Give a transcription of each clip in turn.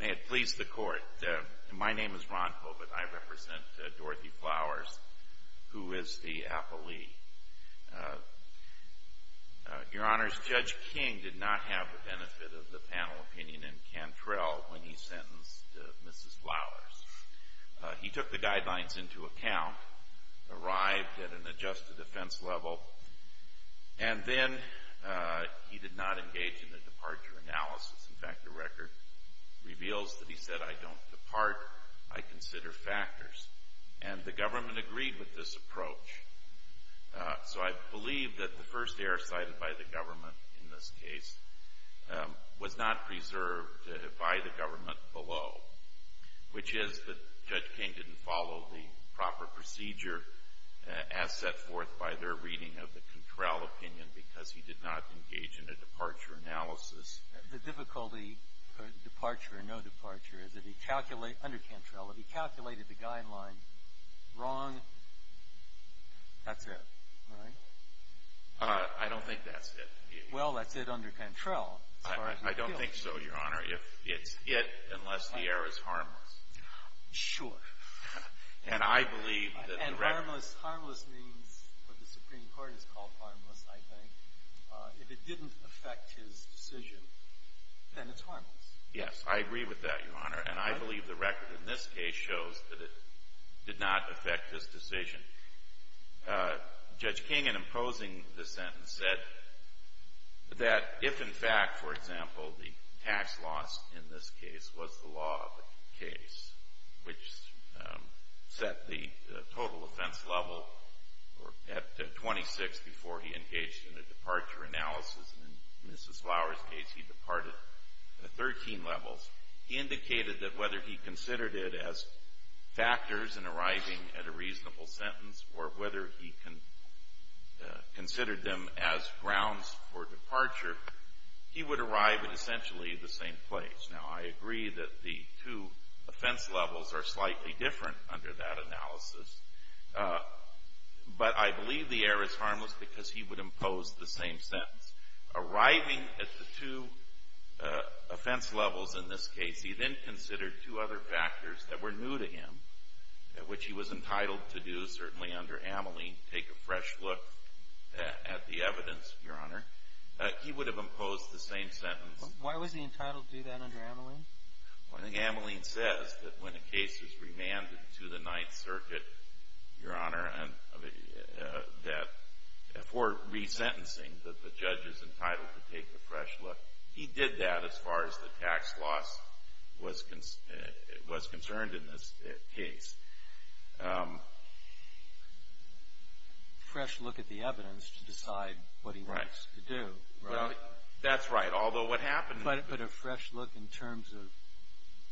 May it please the Court. My name is Ron Hobit. I represent Dorothy Flowers, who is the appellee. Your Honors, Judge King did not have the benefit of the panel opinion in Cantrell when he sentenced Mrs. Flowers. He took the guidelines into account, arrived at an adjusted offense level, and then he did not engage in the departure analysis. In fact, the record reveals that he said, I don't depart. I consider factors. And the government agreed with this approach. So I believe that the first error cited by the government in this case was not preserved by the government below, which is that Judge King didn't follow the proper procedure as set forth by their reading of the Cantrell opinion because he did not engage in a departure analysis. The difficulty for departure or no departure is that he calculated, under Cantrell, that he calculated the guideline wrong. That's it, right? I don't think that's it. Well, that's it under Cantrell. I don't think so, Your Honor, if it's it unless the error is harmless. Sure. And I believe that the record And harmless means what the Supreme Court has called harmless, I think. If it didn't affect his decision, then it's harmless. Yes, I agree with that, Your Honor. And I believe the record in this case shows that it did not affect his decision. Judge King, in imposing the sentence, said that if in fact, for example, the tax loss in this case was the law of the case, which set the total offense level at 26 before he engaged in a departure analysis. In Mrs. Flower's case, he departed at 13 levels. He indicated that whether he considered it as factors in arriving at a reasonable sentence, or whether he considered them as grounds for departure, he would arrive at essentially the same place. Now, I agree that the two offense levels are slightly different under that analysis. But I believe the error is harmless because he would impose the same sentence. Arriving at the two offense levels in this case, he then considered two other factors that were new to him, which he was entitled to do, certainly under Ameline, take a fresh look at the evidence, Your Honor. He would have imposed the same sentence. Why was he entitled to do that under Ameline? Well, I think Ameline says that when a case is remanded to the Ninth Circuit, Your Honor, for resentencing, that the judge is entitled to take a fresh look. He did that as far as the tax loss was concerned in this case. A fresh look at the evidence to decide what he wants to do. Right. Well, that's right. But a fresh look in terms of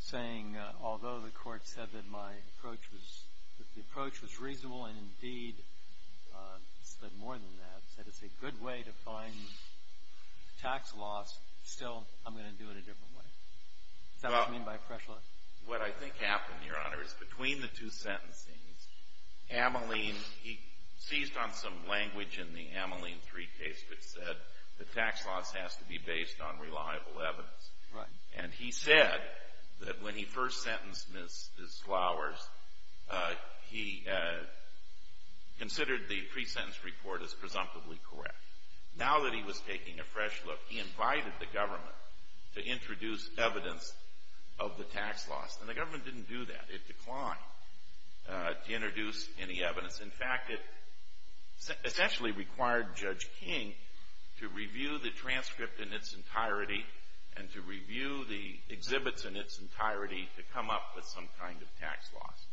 saying, although the Court said that my approach was reasonable, and indeed said more than that, said it's a good way to find tax loss, still I'm going to do it a different way. Is that what you mean by fresh look? What I think happened, Your Honor, is between the two sentencings, Ameline, he seized on some language in the Ameline 3 case that said the tax loss has to be based on reliable evidence. Right. And he said that when he first sentenced Ms. Flowers, he considered the pre-sentence report as presumptively correct. Now that he was taking a fresh look, he invited the government to introduce evidence of the tax loss. And the government didn't do that. It declined to introduce any evidence. In fact, it essentially required Judge King to review the transcript in its entirety and to review the exhibits in its entirety to come up with some kind of tax loss.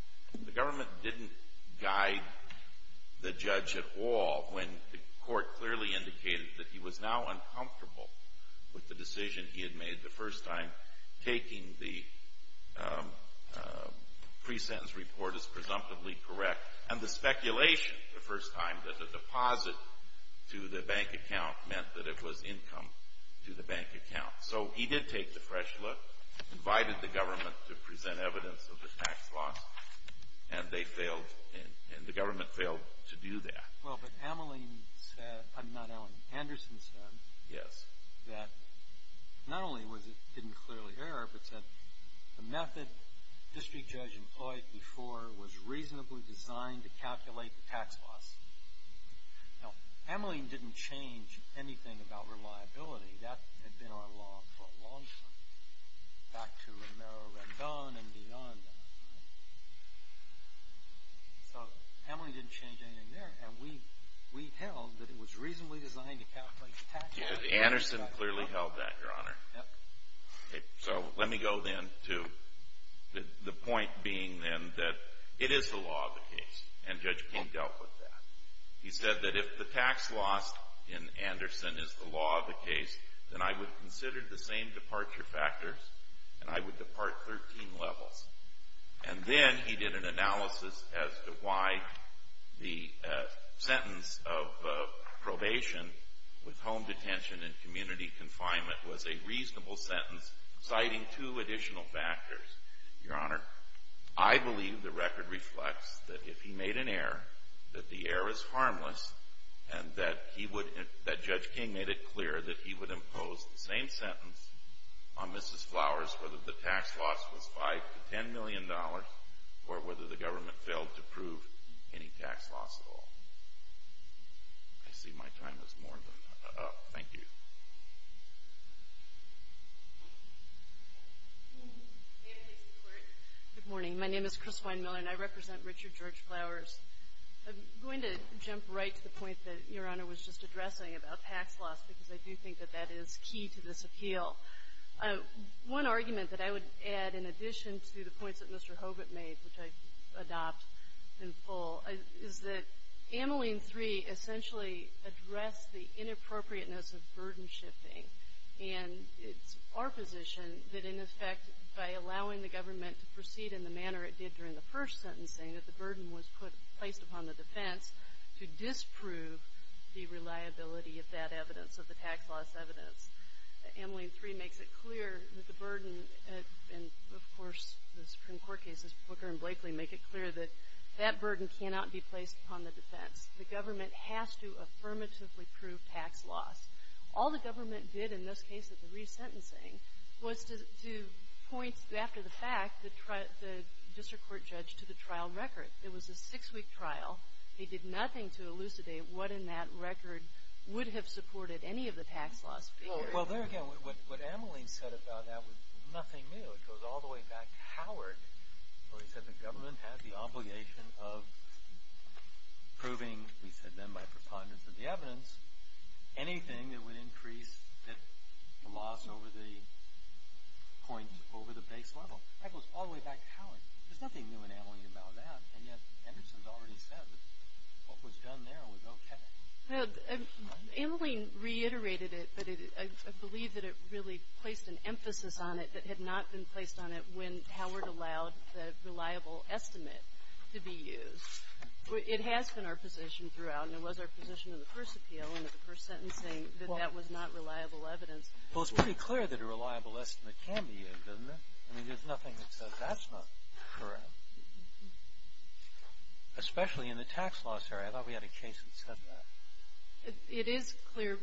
The government didn't guide the judge at all when the Court clearly indicated that he was now uncomfortable with the decision he had made the first time taking the pre-sentence report as presumptively correct. And the speculation the first time that the deposit to the bank account meant that it was income to the bank account. So he did take the fresh look, invited the government to present evidence of the tax loss, and they failed, and the government failed to do that. Well, but Ameline said, not Ameline, Anderson said. Yes. That not only was it didn't clearly error, but said the method District Judge employed before was reasonably designed to calculate the tax loss. Now, Ameline didn't change anything about reliability. That had been our law for a long time, back to Romero-Redon and beyond that. So Ameline didn't change anything there, and we held that it was reasonably designed to calculate the tax loss. Anderson clearly held that, Your Honor. So let me go then to the point being then that it is the law of the case, and Judge King dealt with that. He said that if the tax loss in Anderson is the law of the case, then I would consider the same departure factors, and I would depart 13 levels. And then he did an analysis as to why the sentence of probation with home detention and community confinement was a reasonable sentence, citing two additional factors. Your Honor, I believe the record reflects that if he made an error, that the error is harmless, and that he would, that Judge King made it clear that he would impose the same sentence on Mrs. Flowers whether the tax loss was $5 to $10 million or whether the government failed to prove any tax loss at all. I see my time is more than up. Thank you. Good morning. My name is Chriswein Miller, and I represent Richard George Flowers. I'm going to jump right to the point that Your Honor was just addressing about tax loss, because I do think that that is key to this appeal. One argument that I would add in addition to the points that Mr. Hobart made, which I adopt in full, is that Ameline III essentially addressed the inappropriateness of burden shifting, and it's our position that, in effect, by allowing the government to proceed in the manner it did during the first sentencing, that the burden was placed upon the defense to disprove the reliability of that evidence, of the tax loss evidence. Ameline III makes it clear that the burden, and, of course, the Supreme Court cases, Booker and Blakely, make it clear that that burden cannot be placed upon the defense. The government has to affirmatively prove tax loss. All the government did in this case at the resentencing was to point, after the fact, the district court judge to the trial record. It was a six-week trial. He did nothing to elucidate what in that record would have supported any of the tax loss figures. Well, there again, what Ameline said about that was nothing new. It goes all the way back to Howard, where he said the government had the obligation of proving, he said then by preponderance of the evidence, anything that would increase the loss over the point, over the base level. That goes all the way back to Howard. There's nothing new in Ameline about that, and yet Anderson's already said that what was done there was okay. Well, Ameline reiterated it, but I believe that it really placed an emphasis on it that had not been placed on it when Howard allowed the reliable estimate to be used. It has been our position throughout, and it was our position in the first appeal and at the first sentencing, that that was not reliable evidence. Well, it's pretty clear that a reliable estimate can be used, isn't it? I mean, there's nothing that says that's not correct, especially in the tax loss area. I thought we had a case that said that. It is clear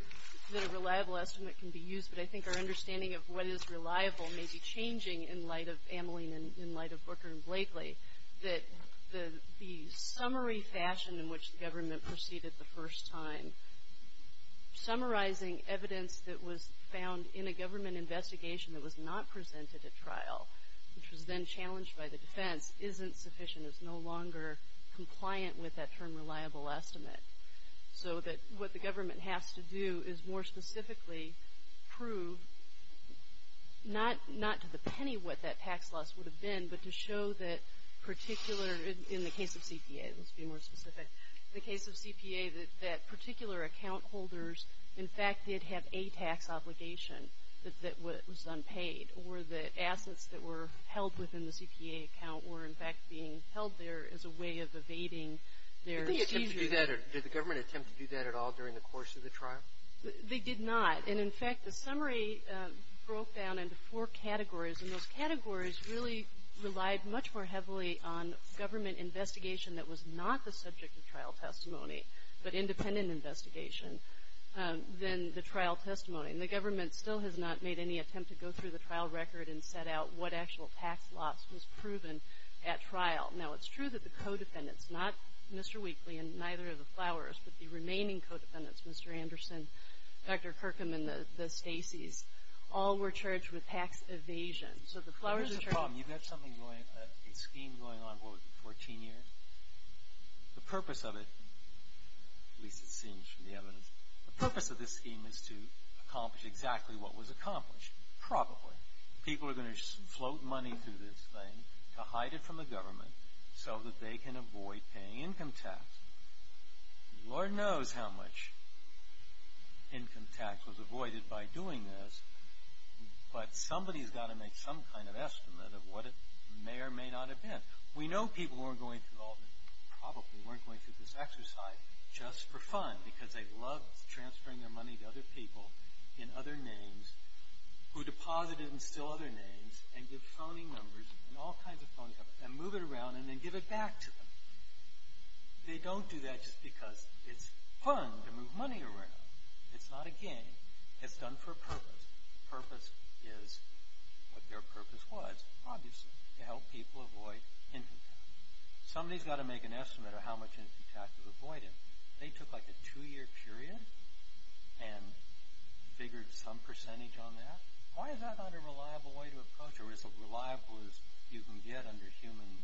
that a reliable estimate can be used, but I think our understanding of what is reliable may be changing in light of Ameline and in light of Booker and Blakely, that the summary fashion in which the government proceeded the first time, summarizing evidence that was found in a government investigation that was not presented at trial, which was then challenged by the defense, isn't sufficient. It's no longer compliant with that term reliable estimate. So that what the government has to do is more specifically prove, not to the penny what that tax loss would have been, but to show that particular, in the case of CPA, let's be more specific, in the case of CPA, that particular account holders in fact did have a tax obligation that was unpaid, or that assets that were held within the CPA account were in fact being held there as a way of evading their seizure. Did the government attempt to do that at all during the course of the trial? They did not. And in fact, the summary broke down into four categories, and those categories really relied much more heavily on government investigation that was not the subject of trial testimony, but independent investigation, than the trial testimony. And the government still has not made any attempt to go through the trial record and set out what actual tax loss was proven at trial. Now, it's true that the co-defendants, not Mr. Weakley and neither of the Flowers, but the remaining co-defendants, Mr. Anderson, Dr. Kirkham, and the Stacys, all were charged with tax evasion. So the Flowers are charged... But there's a problem. You've got something going, a scheme going on, what, 14 years? The purpose of it, at least it seems from the evidence, the purpose of this scheme is to accomplish exactly what was accomplished, probably. People are going to float money through this thing to hide it from the government so that they can avoid paying income tax. Lord knows how much income tax was avoided by doing this, but somebody's got to make some kind of estimate of what it may or may not have been. We know people probably weren't going through this exercise just for fun because they loved transferring their money to other people in other names who deposited in still other names and give phoning numbers and all kinds of phone numbers and move it around and then give it back to them. They don't do that just because it's fun to move money around. It's not a game. It's done for a purpose. The purpose is what their purpose was, obviously, to help people avoid income tax. Somebody's got to make an estimate of how much income tax was avoided. They took like a two-year period and figured some percentage on that. Why is that not a reliable way to approach it, or is it as reliable as you can get under human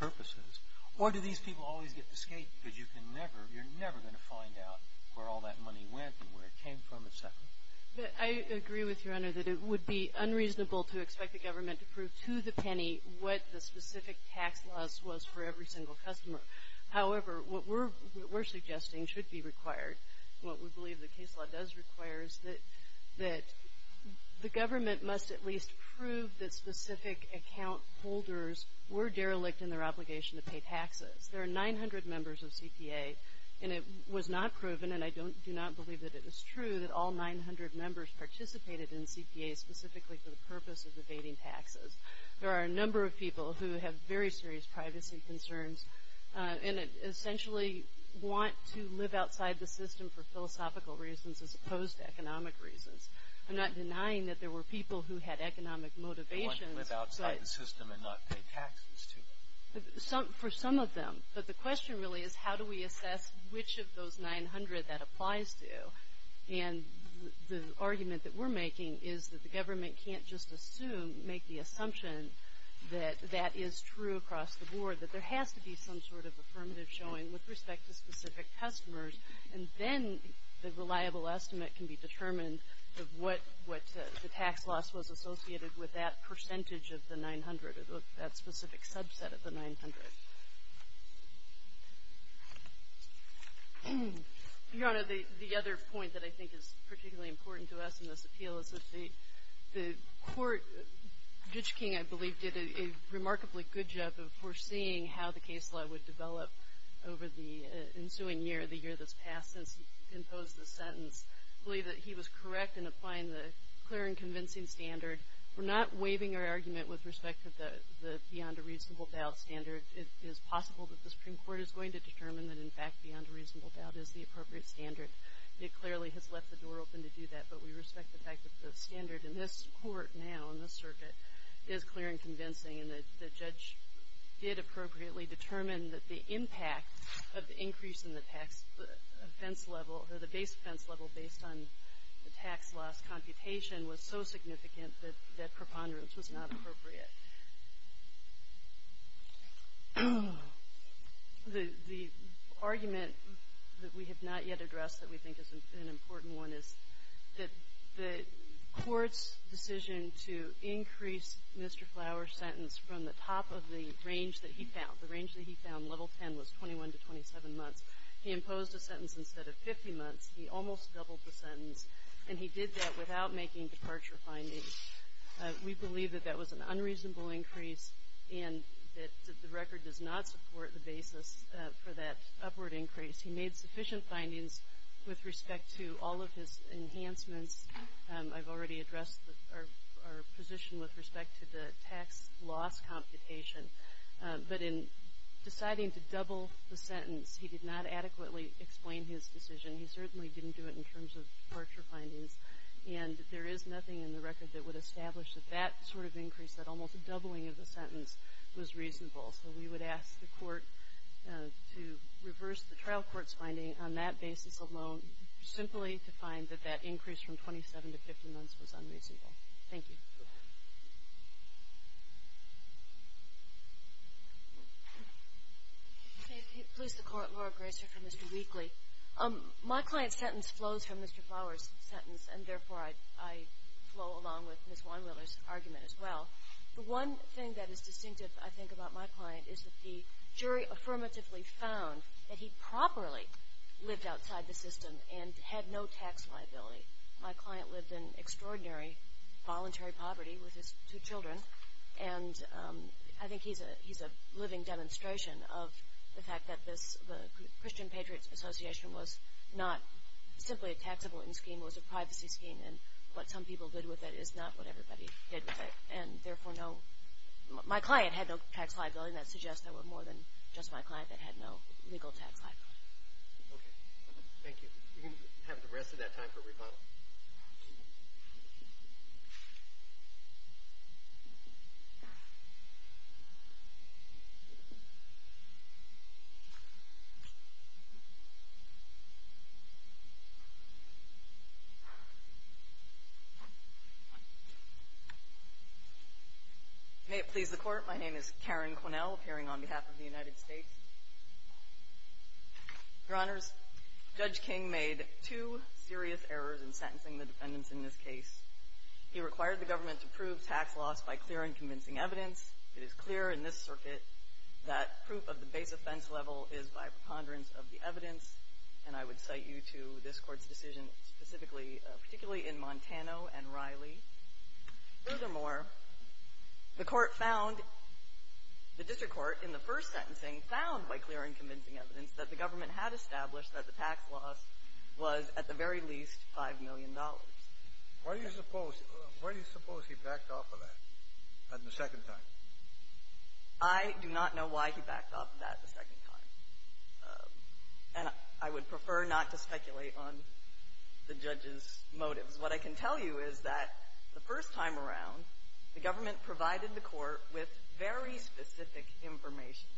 purposes? Or do these people always get to skate because you're never going to find out where all that money went and where it came from, et cetera? I agree with Your Honor that it would be unreasonable to expect the government to prove to the penny what the specific tax laws was for every single customer. However, what we're suggesting should be required, what we believe the case law does require, is that the government must at least prove that specific account holders were derelict in their obligation to pay taxes. There are 900 members of CPA, and it was not proven, and I do not believe that it was true that all 900 members participated in CPAs specifically for the purpose of evading taxes. There are a number of people who have very serious privacy concerns and essentially want to live outside the system for philosophical reasons as opposed to economic reasons. I'm not denying that there were people who had economic motivations. They want to live outside the system and not pay taxes to them. For some of them. But the question really is how do we assess which of those 900 that applies to? And the argument that we're making is that the government can't just assume, make the assumption that that is true across the board, that there has to be some sort of affirmative showing with respect to specific customers, and then the reliable estimate can be determined of what the tax loss was associated with that percentage of the 900 or that specific subset of the 900. Your Honor, the other point that I think is particularly important to us in this appeal is that the court, Ditch King, I believe, did a remarkably good job of foreseeing how the case law would develop over the ensuing year, the year that's passed since he imposed the sentence. I believe that he was correct in applying the clear and convincing standard. We're not waiving our argument with respect to the beyond a reasonable doubt standard. It is possible that the Supreme Court is going to determine that, in fact, beyond a reasonable doubt is the appropriate standard. It clearly has left the door open to do that, but we respect the fact that the standard in this court now, in this circuit, is clear and convincing, and that the judge did appropriately determine that the impact of the increase in the tax offense level or the base offense level based on the tax loss computation was so significant that preponderance was not appropriate. The argument that we have not yet addressed that we think is an important one is that the court's decision to increase Mr. Flower's sentence from the top of the range that he found, the range that he found, level 10, was 21 to 27 months. He imposed a sentence instead of 50 months. He almost doubled the sentence, and he did that without making departure findings. We believe that that was an unreasonable increase and that the record does not support the basis for that upward increase. He made sufficient findings with respect to all of his enhancements. I've already addressed our position with respect to the tax loss computation. But in deciding to double the sentence, he did not adequately explain his decision. He certainly didn't do it in terms of departure findings. And there is nothing in the record that would establish that that sort of increase, that almost doubling of the sentence, was reasonable. So we would ask the court to reverse the trial court's finding on that basis alone, simply to find that that increase from 27 to 50 months was unreasonable. Thank you. Please, the Court. Laura Graser for Mr. Wheatley. My client's sentence flows from Mr. Flower's sentence, and therefore I flow along with Ms. Weinwiller's argument as well. The one thing that is distinctive, I think, about my client is that the jury affirmatively found that he properly lived outside the system and had no tax liability. My client lived in extraordinary voluntary poverty with his two children, and I think he's a living demonstration of the fact that the Christian Patriots Association was not simply a taxable scheme. It was a privacy scheme, and what some people did with it is not what everybody did with it. And therefore, my client had no tax liability, and that suggests there were more than just my client that had no legal tax liability. Okay. May it please the Court. My name is Karen Quinnell, appearing on behalf of the United States. Your Honors, Judge King made two serious errors in sentencing the defendants in this case. He required the government to prove tax loss by clear and convincing evidence. It is clear in this circuit that proof of the base offense level is by preponderance of the evidence, and I would cite you to this Court's decision specifically, particularly in Montano and Riley. Furthermore, the Court found the district court in the first sentencing found by clear and convincing evidence that the government had established that the tax loss was at the very least $5 million. Why do you suppose he backed off of that the second time? I do not know why he backed off of that the second time, and I would prefer not to speculate on the judge's motives. What I can tell you is that the first time around, the government provided the Court with very specific information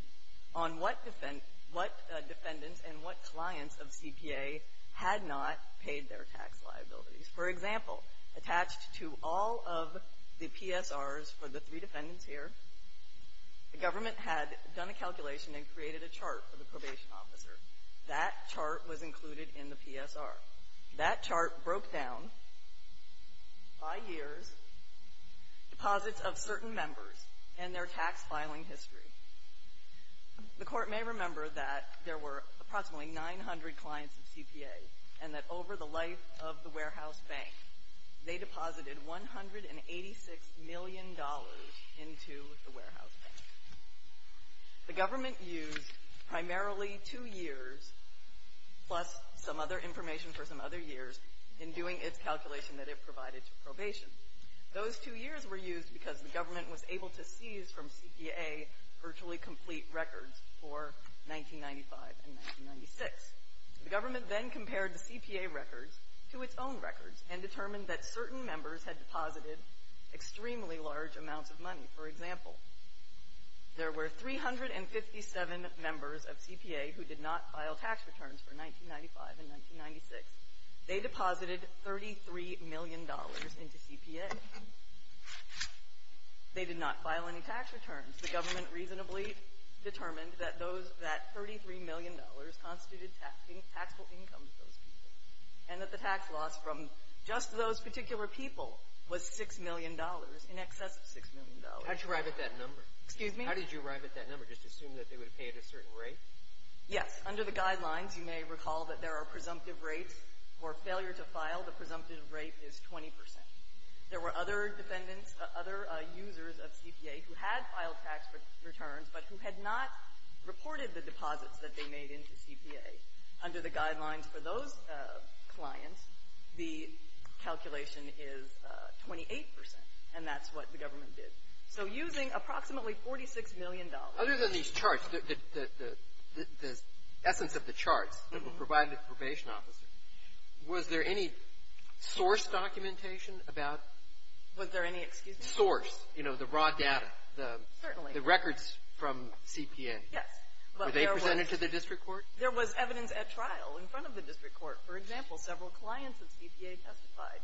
on what defendants and what clients of CPA had not paid their tax liabilities. For example, attached to all of the PSRs for the three defendants here, the government had done a calculation and created a chart for the probation officer. That chart was included in the PSR. That chart broke down by years deposits of certain members and their tax filing history. The Court may remember that there were approximately 900 clients of CPA and that over the life of the warehouse bank, they deposited $186 million into the warehouse bank. The government used primarily two years plus some other information for some other years in doing its calculation that it provided to probation. Those two years were used because the government was able to seize from CPA virtually complete records for 1995 and 1996. The government then compared the CPA records to its own records and determined that certain members had deposited extremely large amounts of money. For example, there were 357 members of CPA who did not file tax returns for 1995 and 1996. They deposited $33 million into CPA. They did not file any tax returns. The government reasonably determined that those that $33 million constituted taxable income and that the tax loss from just those particular people was $6 million, in excess of $6 million. How did you arrive at that number? Excuse me? How did you arrive at that number? Just assume that they would pay at a certain rate? Yes. Under the guidelines, you may recall that there are presumptive rates for failure to file. The presumptive rate is 20 percent. There were other defendants, other users of CPA who had filed tax returns but who had not reported the deposits that they made into CPA. Under the guidelines for those clients, the calculation is 28 percent, and that's what the government did. So using approximately $46 million. Other than these charts, the essence of the charts that were provided to the probation officer, was there any source documentation about? Was there any, excuse me? Source. You know, the raw data. Certainly. The records from CPA. Yes. Were they presented to the district court? There was evidence at trial in front of the district court. For example, several clients of CPA testified.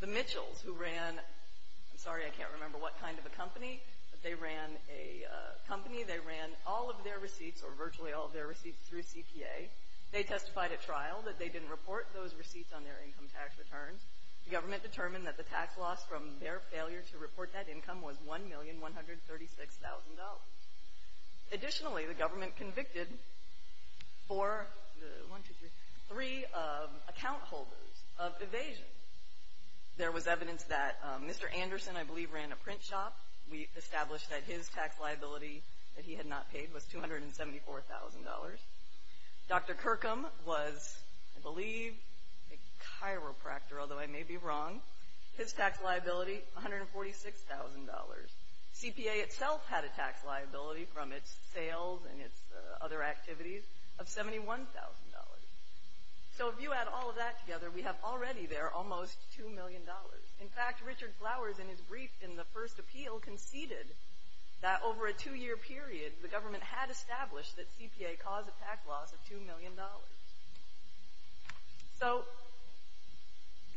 The Mitchells who ran, I'm sorry, I can't remember what kind of a company, but they ran a company, they ran all of their receipts or virtually all of their receipts through CPA. They testified at trial that they didn't report those receipts on their income tax returns. The government determined that the tax loss from their failure to report that income was $1,136,000. Additionally, the government convicted four, one, two, three, three account holders of evasion. There was evidence that Mr. Anderson, I believe, ran a print shop. We established that his tax liability that he had not paid was $274,000. Dr. Kirkham was, I believe, a chiropractor, although I may be wrong. His tax liability, $146,000. CPA itself had a tax liability from its sales and its other activities of $71,000. So if you add all of that together, we have already there almost $2 million. In fact, Richard Flowers, in his brief in the first appeal, conceded that over a two-year period, the government had established that CPA caused a tax loss of $2 million. So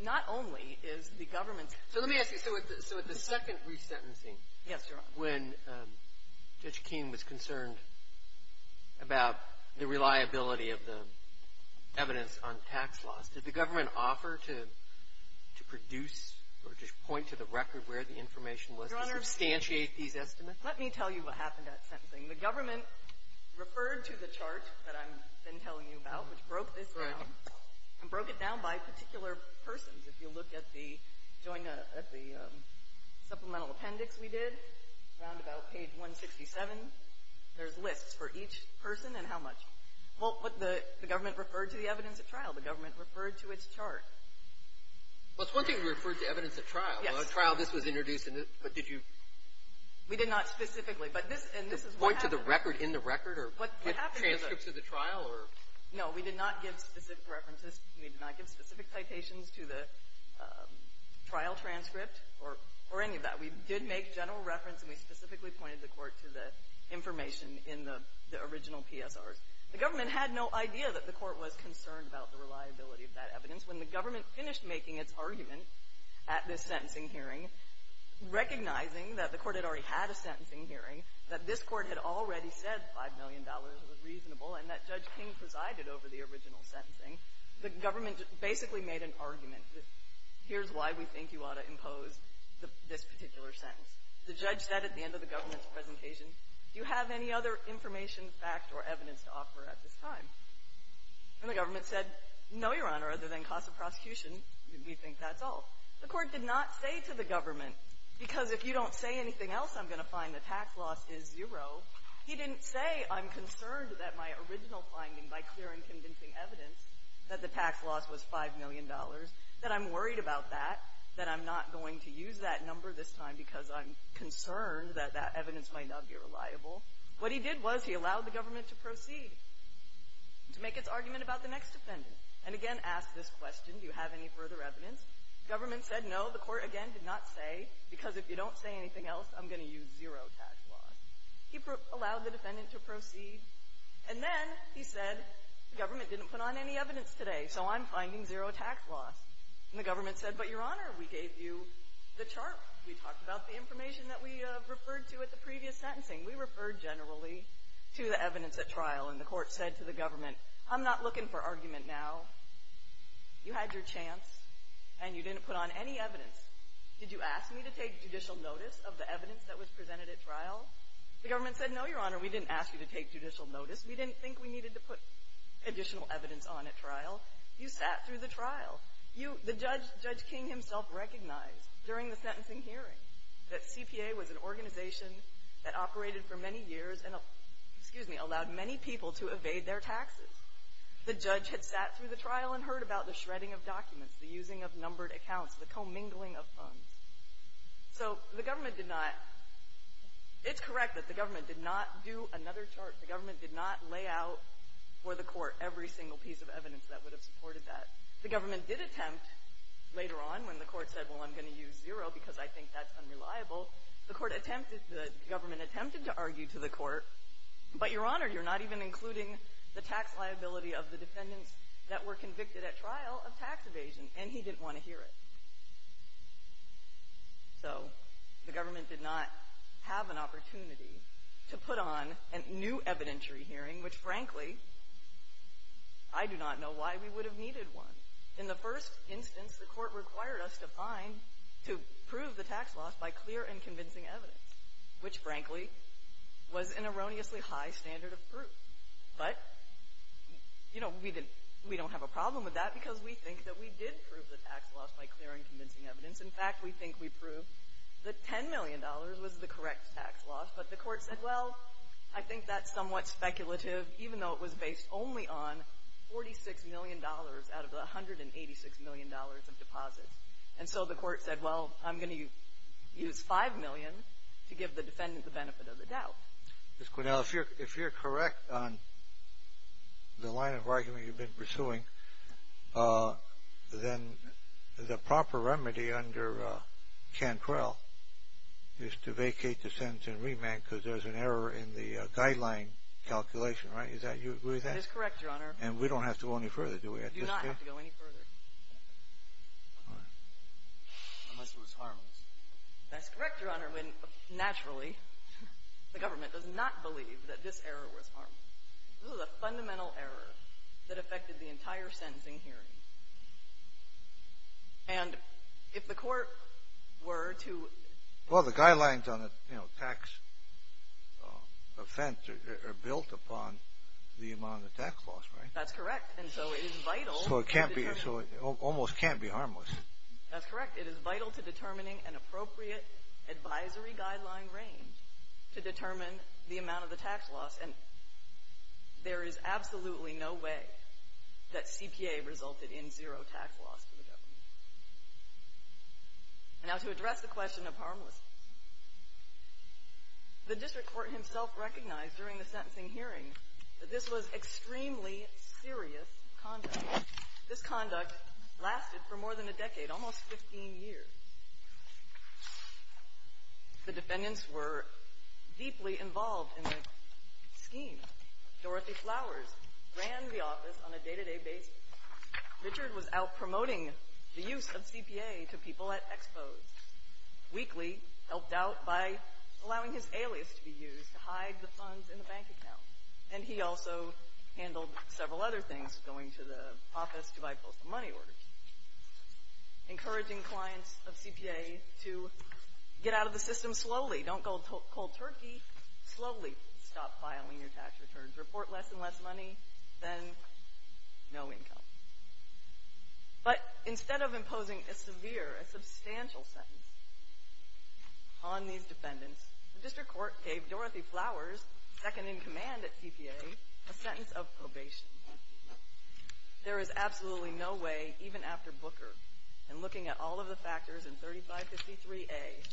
not only is the government. So let me ask you, so at the second resentencing. Yes, Your Honor. When Judge King was concerned about the reliability of the evidence on tax loss, did the government offer to produce or just point to the record where the information was to substantiate these estimates? Let me tell you what happened at sentencing. The government referred to the chart that I've been telling you about, which broke this down, and broke it down by particular persons. If you look at the supplemental appendix we did, roundabout page 167, there's lists for each person and how much. Well, the government referred to the evidence at trial. The government referred to its chart. Well, it's one thing to refer to evidence at trial. Yes. At trial, this was introduced, but did you? We did not specifically, but this is what happened. Just point to the record in the record or transcripts of the trial or? No, we did not give specific references. We did not give specific citations to the trial transcript or any of that. We did make general reference, and we specifically pointed the court to the information in the original PSRs. The government had no idea that the court was concerned about the reliability of that evidence. When the government finished making its argument at this sentencing hearing, recognizing that the court had already had a sentencing hearing, that this court had already said $5 million was reasonable and that Judge King presided over the original sentencing, the government basically made an argument that here's why we think you ought to impose this particular sentence. The judge said at the end of the government's presentation, do you have any other information, fact, or evidence to offer at this time? And the government said, no, Your Honor, other than cost of prosecution, we think that's all. The court did not say to the government, because if you don't say anything else, I'm going to find the tax loss is zero, he didn't say I'm concerned that my original finding by clearing convincing evidence that the tax loss was $5 million, that I'm worried about that, that I'm not going to use that number this time because I'm concerned that that evidence might not be reliable. What he did was he allowed the government to proceed to make its argument about the next defendant, and again asked this question, do you have any further evidence? The government said, no, the court again did not say, because if you don't say anything else, I'm going to use zero tax loss. He allowed the defendant to proceed, and then he said, the government didn't put on any evidence today, so I'm finding zero tax loss. And the government said, but, Your Honor, we gave you the chart. We talked about the information that we referred to at the previous sentencing. We referred generally to the evidence at trial, and the court said to the government, I'm not looking for argument now. You had your chance, and you didn't put on any evidence. Did you ask me to take judicial notice of the evidence that was presented at trial? The government said, no, Your Honor, we didn't ask you to take judicial notice. We didn't think we needed to put additional evidence on at trial. You sat through the trial. You, the judge, Judge King himself recognized during the sentencing hearing that CPA was an organization that operated for many years and, excuse me, allowed many people to evade their taxes. The judge had sat through the trial and heard about the shredding of documents, the using of numbered accounts, the commingling of funds. So the government did not – it's correct that the government did not do another chart. The government did not lay out for the court every single piece of evidence that would have supported that. The government did attempt later on when the court said, well, I'm going to use zero because I think that's unreliable, the court attempted – the government attempted to argue to the court, but, Your Honor, you're not even including the tax liability of the defendants that were convicted at trial of tax evasion, and he didn't want to hear it. So the government did not have an opportunity to put on a new evidentiary hearing, which, frankly, I do not know why we would have needed one. In the first instance, the court required us to find – to prove the tax loss by clear and convincing evidence, which, frankly, was an erroneously high standard of proof. But, you know, we don't have a problem with that because we think that we did prove the tax loss by clear and convincing evidence. In fact, we think we proved that $10 million was the correct tax loss, but the court said, well, I think that's somewhat speculative, even though it was based only on $46 million out of the $186 million of deposits. And so the court said, well, I'm going to use $5 million to give the defendant the benefit of the doubt. Ms. Quinnell, if you're correct on the line of argument you've been pursuing, then the proper remedy under Cantrell is to vacate the sentence and remand because there's an error in the guideline calculation, right? Is that – you agree with that? It is correct, Your Honor. And we don't have to go any further, do we? We do not have to go any further. Unless it was harmless. That's correct, Your Honor, when naturally the government does not believe that this error was harmless. This was a fundamental error that affected the entire sentencing hearing. And if the court were to – Well, the guidelines on a tax offense are built upon the amount of tax loss, right? That's correct. And so it is vital – So it almost can't be harmless. That's correct. It is vital to determining an appropriate advisory guideline range to determine the amount of the tax loss. And there is absolutely no way that CPA resulted in zero tax loss for the government. Now, to address the question of harmlessness, the district court himself recognized during the sentencing hearing that this was extremely serious conduct. This conduct lasted for more than a decade, almost 15 years. The defendants were deeply involved in the scheme. Dorothy Flowers ran the office on a day-to-day basis. Richard was out promoting the use of CPA to people at expos. Weakley helped out by allowing his alias to be used to hide the funds in the bank account. And he also handled several other things, going to the office to buy postal money orders, encouraging clients of CPA to get out of the system slowly. Don't go cold turkey. Slowly stop filing your tax returns. Report less and less money, then no income. But instead of imposing a severe, a substantial sentence on these defendants, the district court gave Dorothy Flowers, second in command at CPA, a sentence of probation. There is absolutely no way, even after Booker, and looking at all of the factors in 3553A,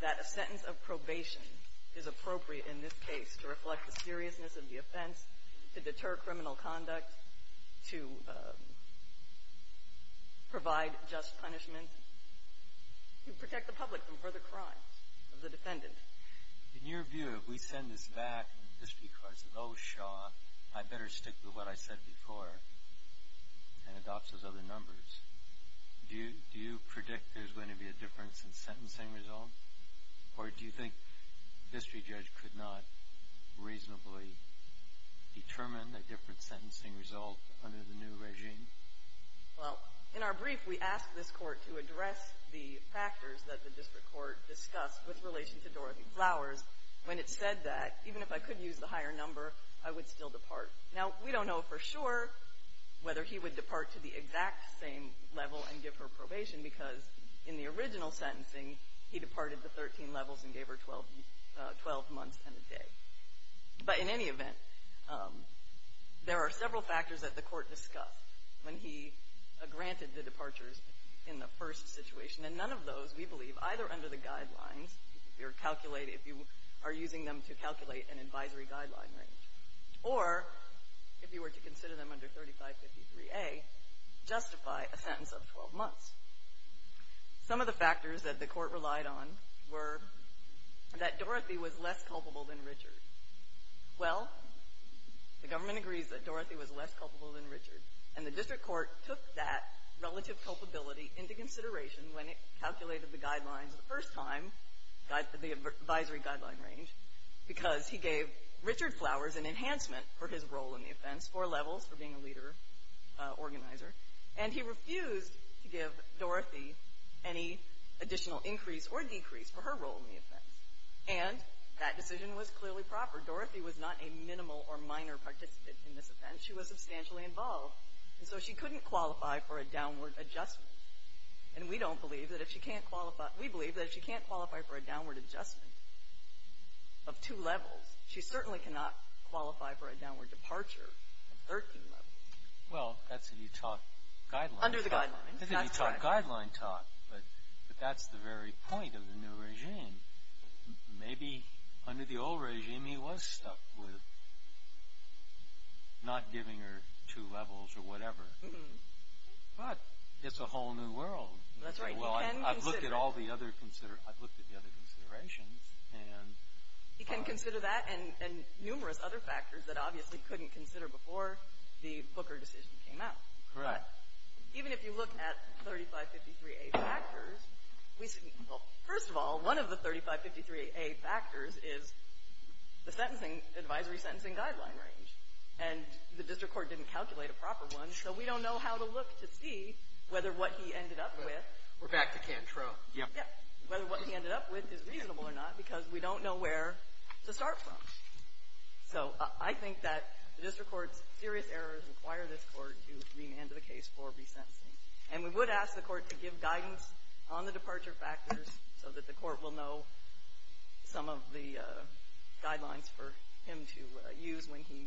that a sentence of probation is appropriate in this case to reflect the seriousness of the offense, to deter criminal conduct, to provide just punishment, to protect the public from further crimes of the defendant. In your view, if we send this back and the district court says, I better stick with what I said before, and adopts those other numbers, do you predict there's going to be a difference in sentencing result? Or do you think the district judge could not reasonably determine a different sentencing result under the new regime? Well, in our brief, we asked this court to address the factors that the district court discussed with relation to Dorothy Flowers. When it said that, even if I could use the higher number, I would still depart. Now, we don't know for sure whether he would depart to the exact same level and give her probation, because in the original sentencing, he departed the 13 levels and gave her 12 months and a day. But in any event, there are several factors that the court discussed when he granted the departures in the first situation. And none of those, we believe, either under the guidelines, if you are using them to calculate an advisory guideline range, or if you were to consider them under 3553A, justify a sentence of 12 months. Some of the factors that the court relied on were that Dorothy was less culpable than Richard. Well, the government agrees that Dorothy was less culpable than Richard, and the district court took that relative culpability into consideration when it calculated the guidelines the first time, the advisory guideline range, because he gave Richard Flowers an enhancement for his role in the offense, four levels for being a leader, organizer, and he refused to give Dorothy any additional increase or decrease for her role in the offense. And that decision was clearly proper. Dorothy was not a minimal or minor participant in this offense. She was substantially involved, and so she couldn't qualify for a downward adjustment. And we don't believe that if she can't qualify, we believe that if she can't qualify for a downward adjustment of two levels, she certainly cannot qualify for a downward departure of 13 levels. Well, that's what you taught guidelines. Under the guidelines. That's what you taught guidelines taught, but that's the very point of the new regime. Maybe under the old regime he was stuck with not giving her two levels or whatever. But it's a whole new world. That's right. Well, I've looked at all the other considerations. He can consider that and numerous other factors that obviously he couldn't consider before the Booker decision came out. Correct. Even if you look at 3553A factors, well, first of all, one of the 3553A factors is the advisory sentencing guideline range, and the district court didn't calculate a proper one, so we don't know how to look to see whether what he ended up with is reasonable or not because we don't know where to start from. So I think that the district court's serious errors require this court to remand the case for resentencing. And we would ask the court to give guidance on the departure factors so that the court will know some of the guidelines for him to use when he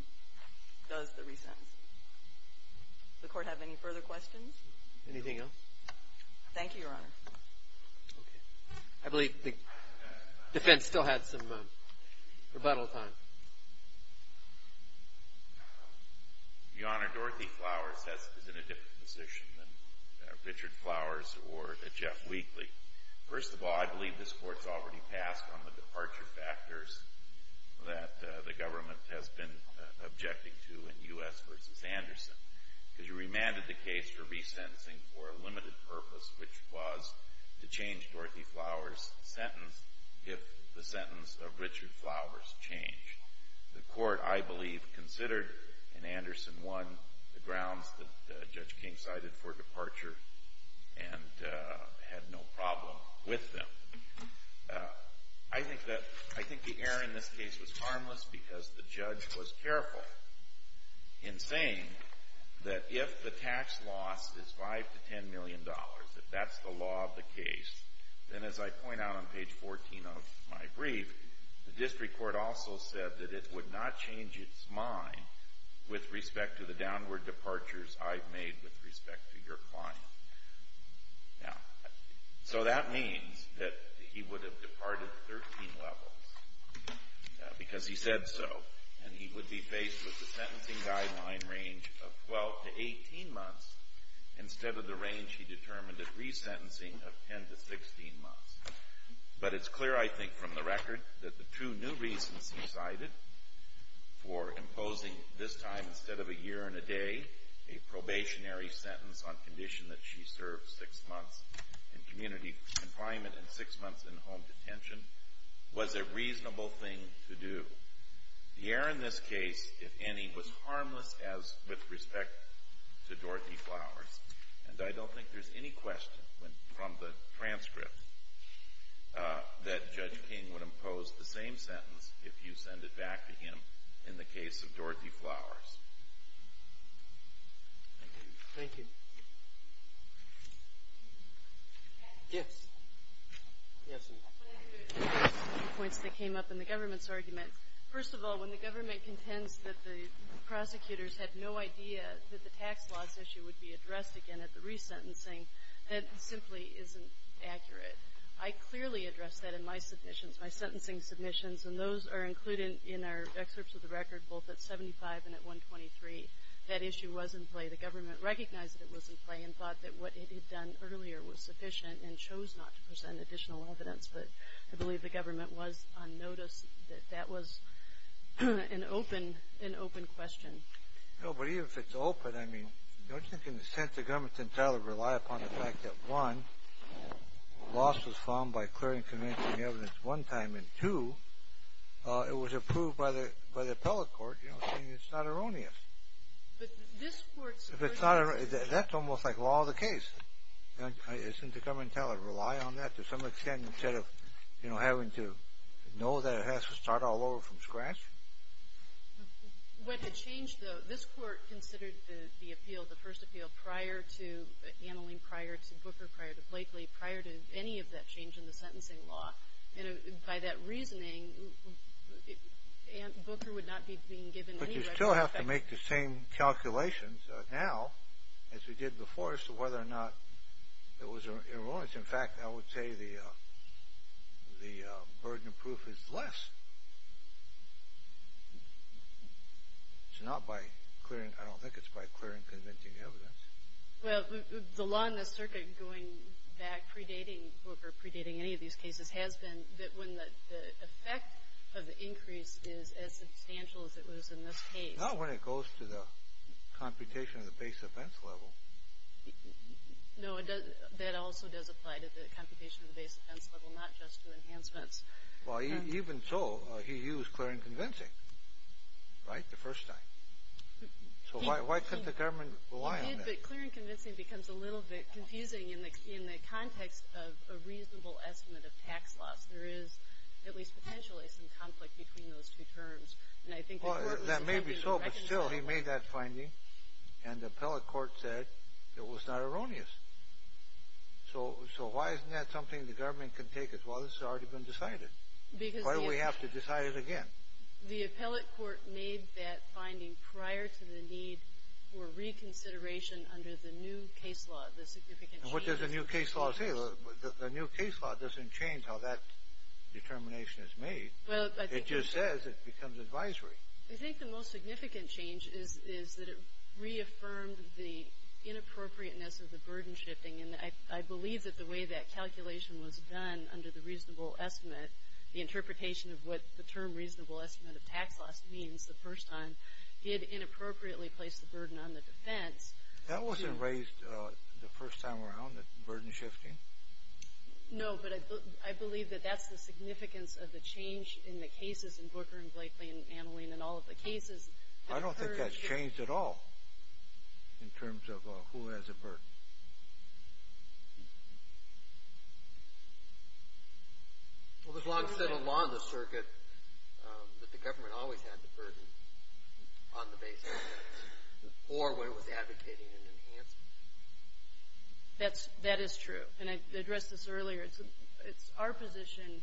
does the resentencing. Does the court have any further questions? Anything else? Thank you, Your Honor. Okay. I believe the defense still had some rebuttal time. Your Honor, Dorothy Flowers is in a different position than Richard Flowers or Jeff Wheatley. First of all, I believe this court's already passed on the departure factors. That the government has been objecting to in U.S. v. Anderson because you remanded the case for resentencing for a limited purpose, which was to change Dorothy Flowers' sentence if the sentence of Richard Flowers changed. The court, I believe, considered in Anderson 1 the grounds that Judge King cited for departure and had no problem with them. I think the error in this case was harmless because the judge was careful in saying that if the tax loss is $5 million to $10 million, if that's the law of the case, then as I point out on page 14 of my brief, the district court also said that it would not change its mind with respect to the downward departures I've made with respect to your client. Now, so that means that he would have departed 13 levels because he said so, and he would be faced with the sentencing guideline range of 12 to 18 months instead of the range he determined at resentencing of 10 to 16 months. But it's clear, I think, from the record that the two new reasons he cited for imposing this time instead of a year and a day, a probationary sentence on condition that she served six months in community confinement and six months in home detention, was a reasonable thing to do. The error in this case, if any, was harmless as with respect to Dorothy Flowers, and I don't think there's any question from the transcript that Judge King would impose the same sentence if you send it back to him in the case of Dorothy Flowers. Thank you. Thank you. Yes. Yes, ma'am. I have a few points that came up in the government's argument. First of all, when the government contends that the prosecutors had no idea that the tax laws issue would be addressed again at the resentencing, that simply isn't accurate. I clearly addressed that in my submissions, my sentencing submissions, and those are included in our excerpts of the record, both at 75 and at 123. That issue was in play. The government recognized that it was in play and thought that what it had done earlier was sufficient and chose not to present additional evidence. But I believe the government was on notice that that was an open question. No, but even if it's open, I mean, don't you think in a sense the government's entitled to rely upon the fact that, one, loss was found by clearing and convincing evidence one time, and, two, it was approved by the appellate court, saying it's not erroneous. But this court supported that. That's almost like law of the case. Isn't the government entitled to rely on that to some extent instead of having to know that it has to start all over from scratch? What had changed, though, this court considered the appeal, the first appeal, prior to Ameline, prior to Booker, prior to Blakely, prior to any of that change in the sentencing law? And by that reasoning, Booker would not be being given any right to defect. But you still have to make the same calculations now as we did before as to whether or not it was erroneous. In fact, I would say the burden of proof is less. It's not by clearing. I don't think it's by clearing and convincing evidence. Well, the law in this circuit going back predating Booker, predating any of these cases, has been that when the effect of the increase is as substantial as it was in this case. Not when it goes to the computation of the base offense level. No, that also does apply to the computation of the base offense level, not just to enhancements. Well, even so, he used clear and convincing, right, the first time. So why couldn't the government rely on that? He did, but clear and convincing becomes a little bit confusing in the context of a reasonable estimate of tax loss. There is, at least potentially, some conflict between those two terms. And I think the court was attempting to reconcile. Well, that may be so, but still, he made that finding, and the appellate court said it was not erroneous. So why isn't that something the government can take as well? It's already been decided. Why do we have to decide it again? The appellate court made that finding prior to the need for reconsideration under the new case law, the significant change. And what does the new case law say? The new case law doesn't change how that determination is made. It just says it becomes advisory. I think the most significant change is that it reaffirmed the inappropriateness of the burden shifting, and I believe that the way that calculation was done under the reasonable estimate, the interpretation of what the term reasonable estimate of tax loss means the first time, it inappropriately placed the burden on the defense. That wasn't raised the first time around, the burden shifting? No, but I believe that that's the significance of the change in the cases in Booker and Blakely and Annalene and all of the cases. I don't think that's changed at all in terms of who has a burden. Well, it was long said along the circuit that the government always had the burden on the base. Or when it was advocating an enhancement. That is true, and I addressed this earlier. It's our position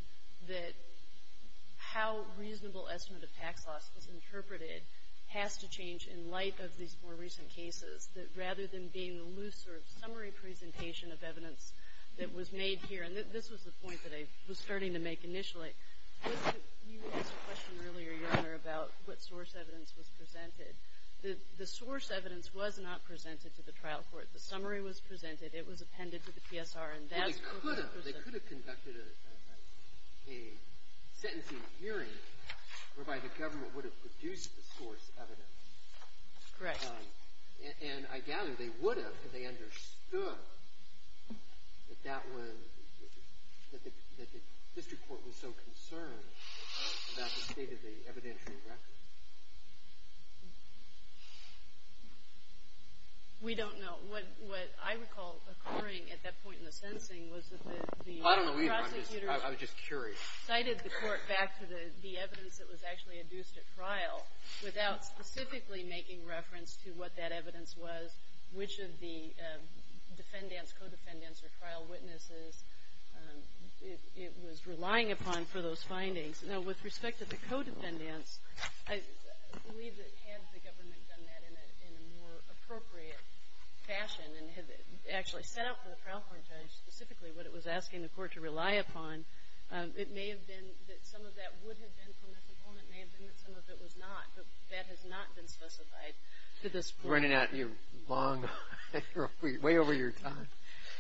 that how reasonable estimate of tax loss is interpreted has to change in light of these more recent cases, that rather than being a loose sort of summary presentation of evidence that was made here. And this was the point that I was starting to make initially. You asked a question earlier, Your Honor, about what source evidence was presented. The source evidence was not presented to the trial court. The summary was presented. It was appended to the PSR. Well, they could have. They could have conducted a sentencing hearing whereby the government would have produced the source evidence. Correct. And I gather they would have if they understood that the district court was so concerned about the state of the evidentiary record. We don't know. What I recall occurring at that point in the sentencing was that the prosecutors cited the court back to the evidence that was actually adduced at trial without specifically making reference to what that evidence was, which of the defendants, co-defendants, or trial witnesses it was relying upon for those findings. Now, with respect to the co-defendants, I believe that had the government done that in a more appropriate fashion and had actually set out for the trial court judge specifically what it was asking the court to rely upon, it may have been that some of that would have been from this opponent. It may have been that some of it was not. But that has not been specified to this court. We're running out of your long way over your time.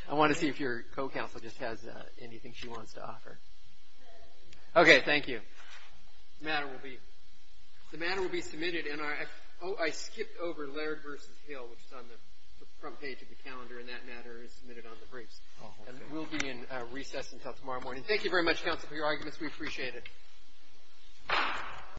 I want to see if your co-counsel just has anything she wants to offer. Okay. Thank you. The matter will be submitted. I skipped over Laird v. Hill, which is on the front page of the calendar, and that matter is submitted on the briefs. It will be in recess until tomorrow morning. Thank you very much, counsel, for your arguments. We appreciate it.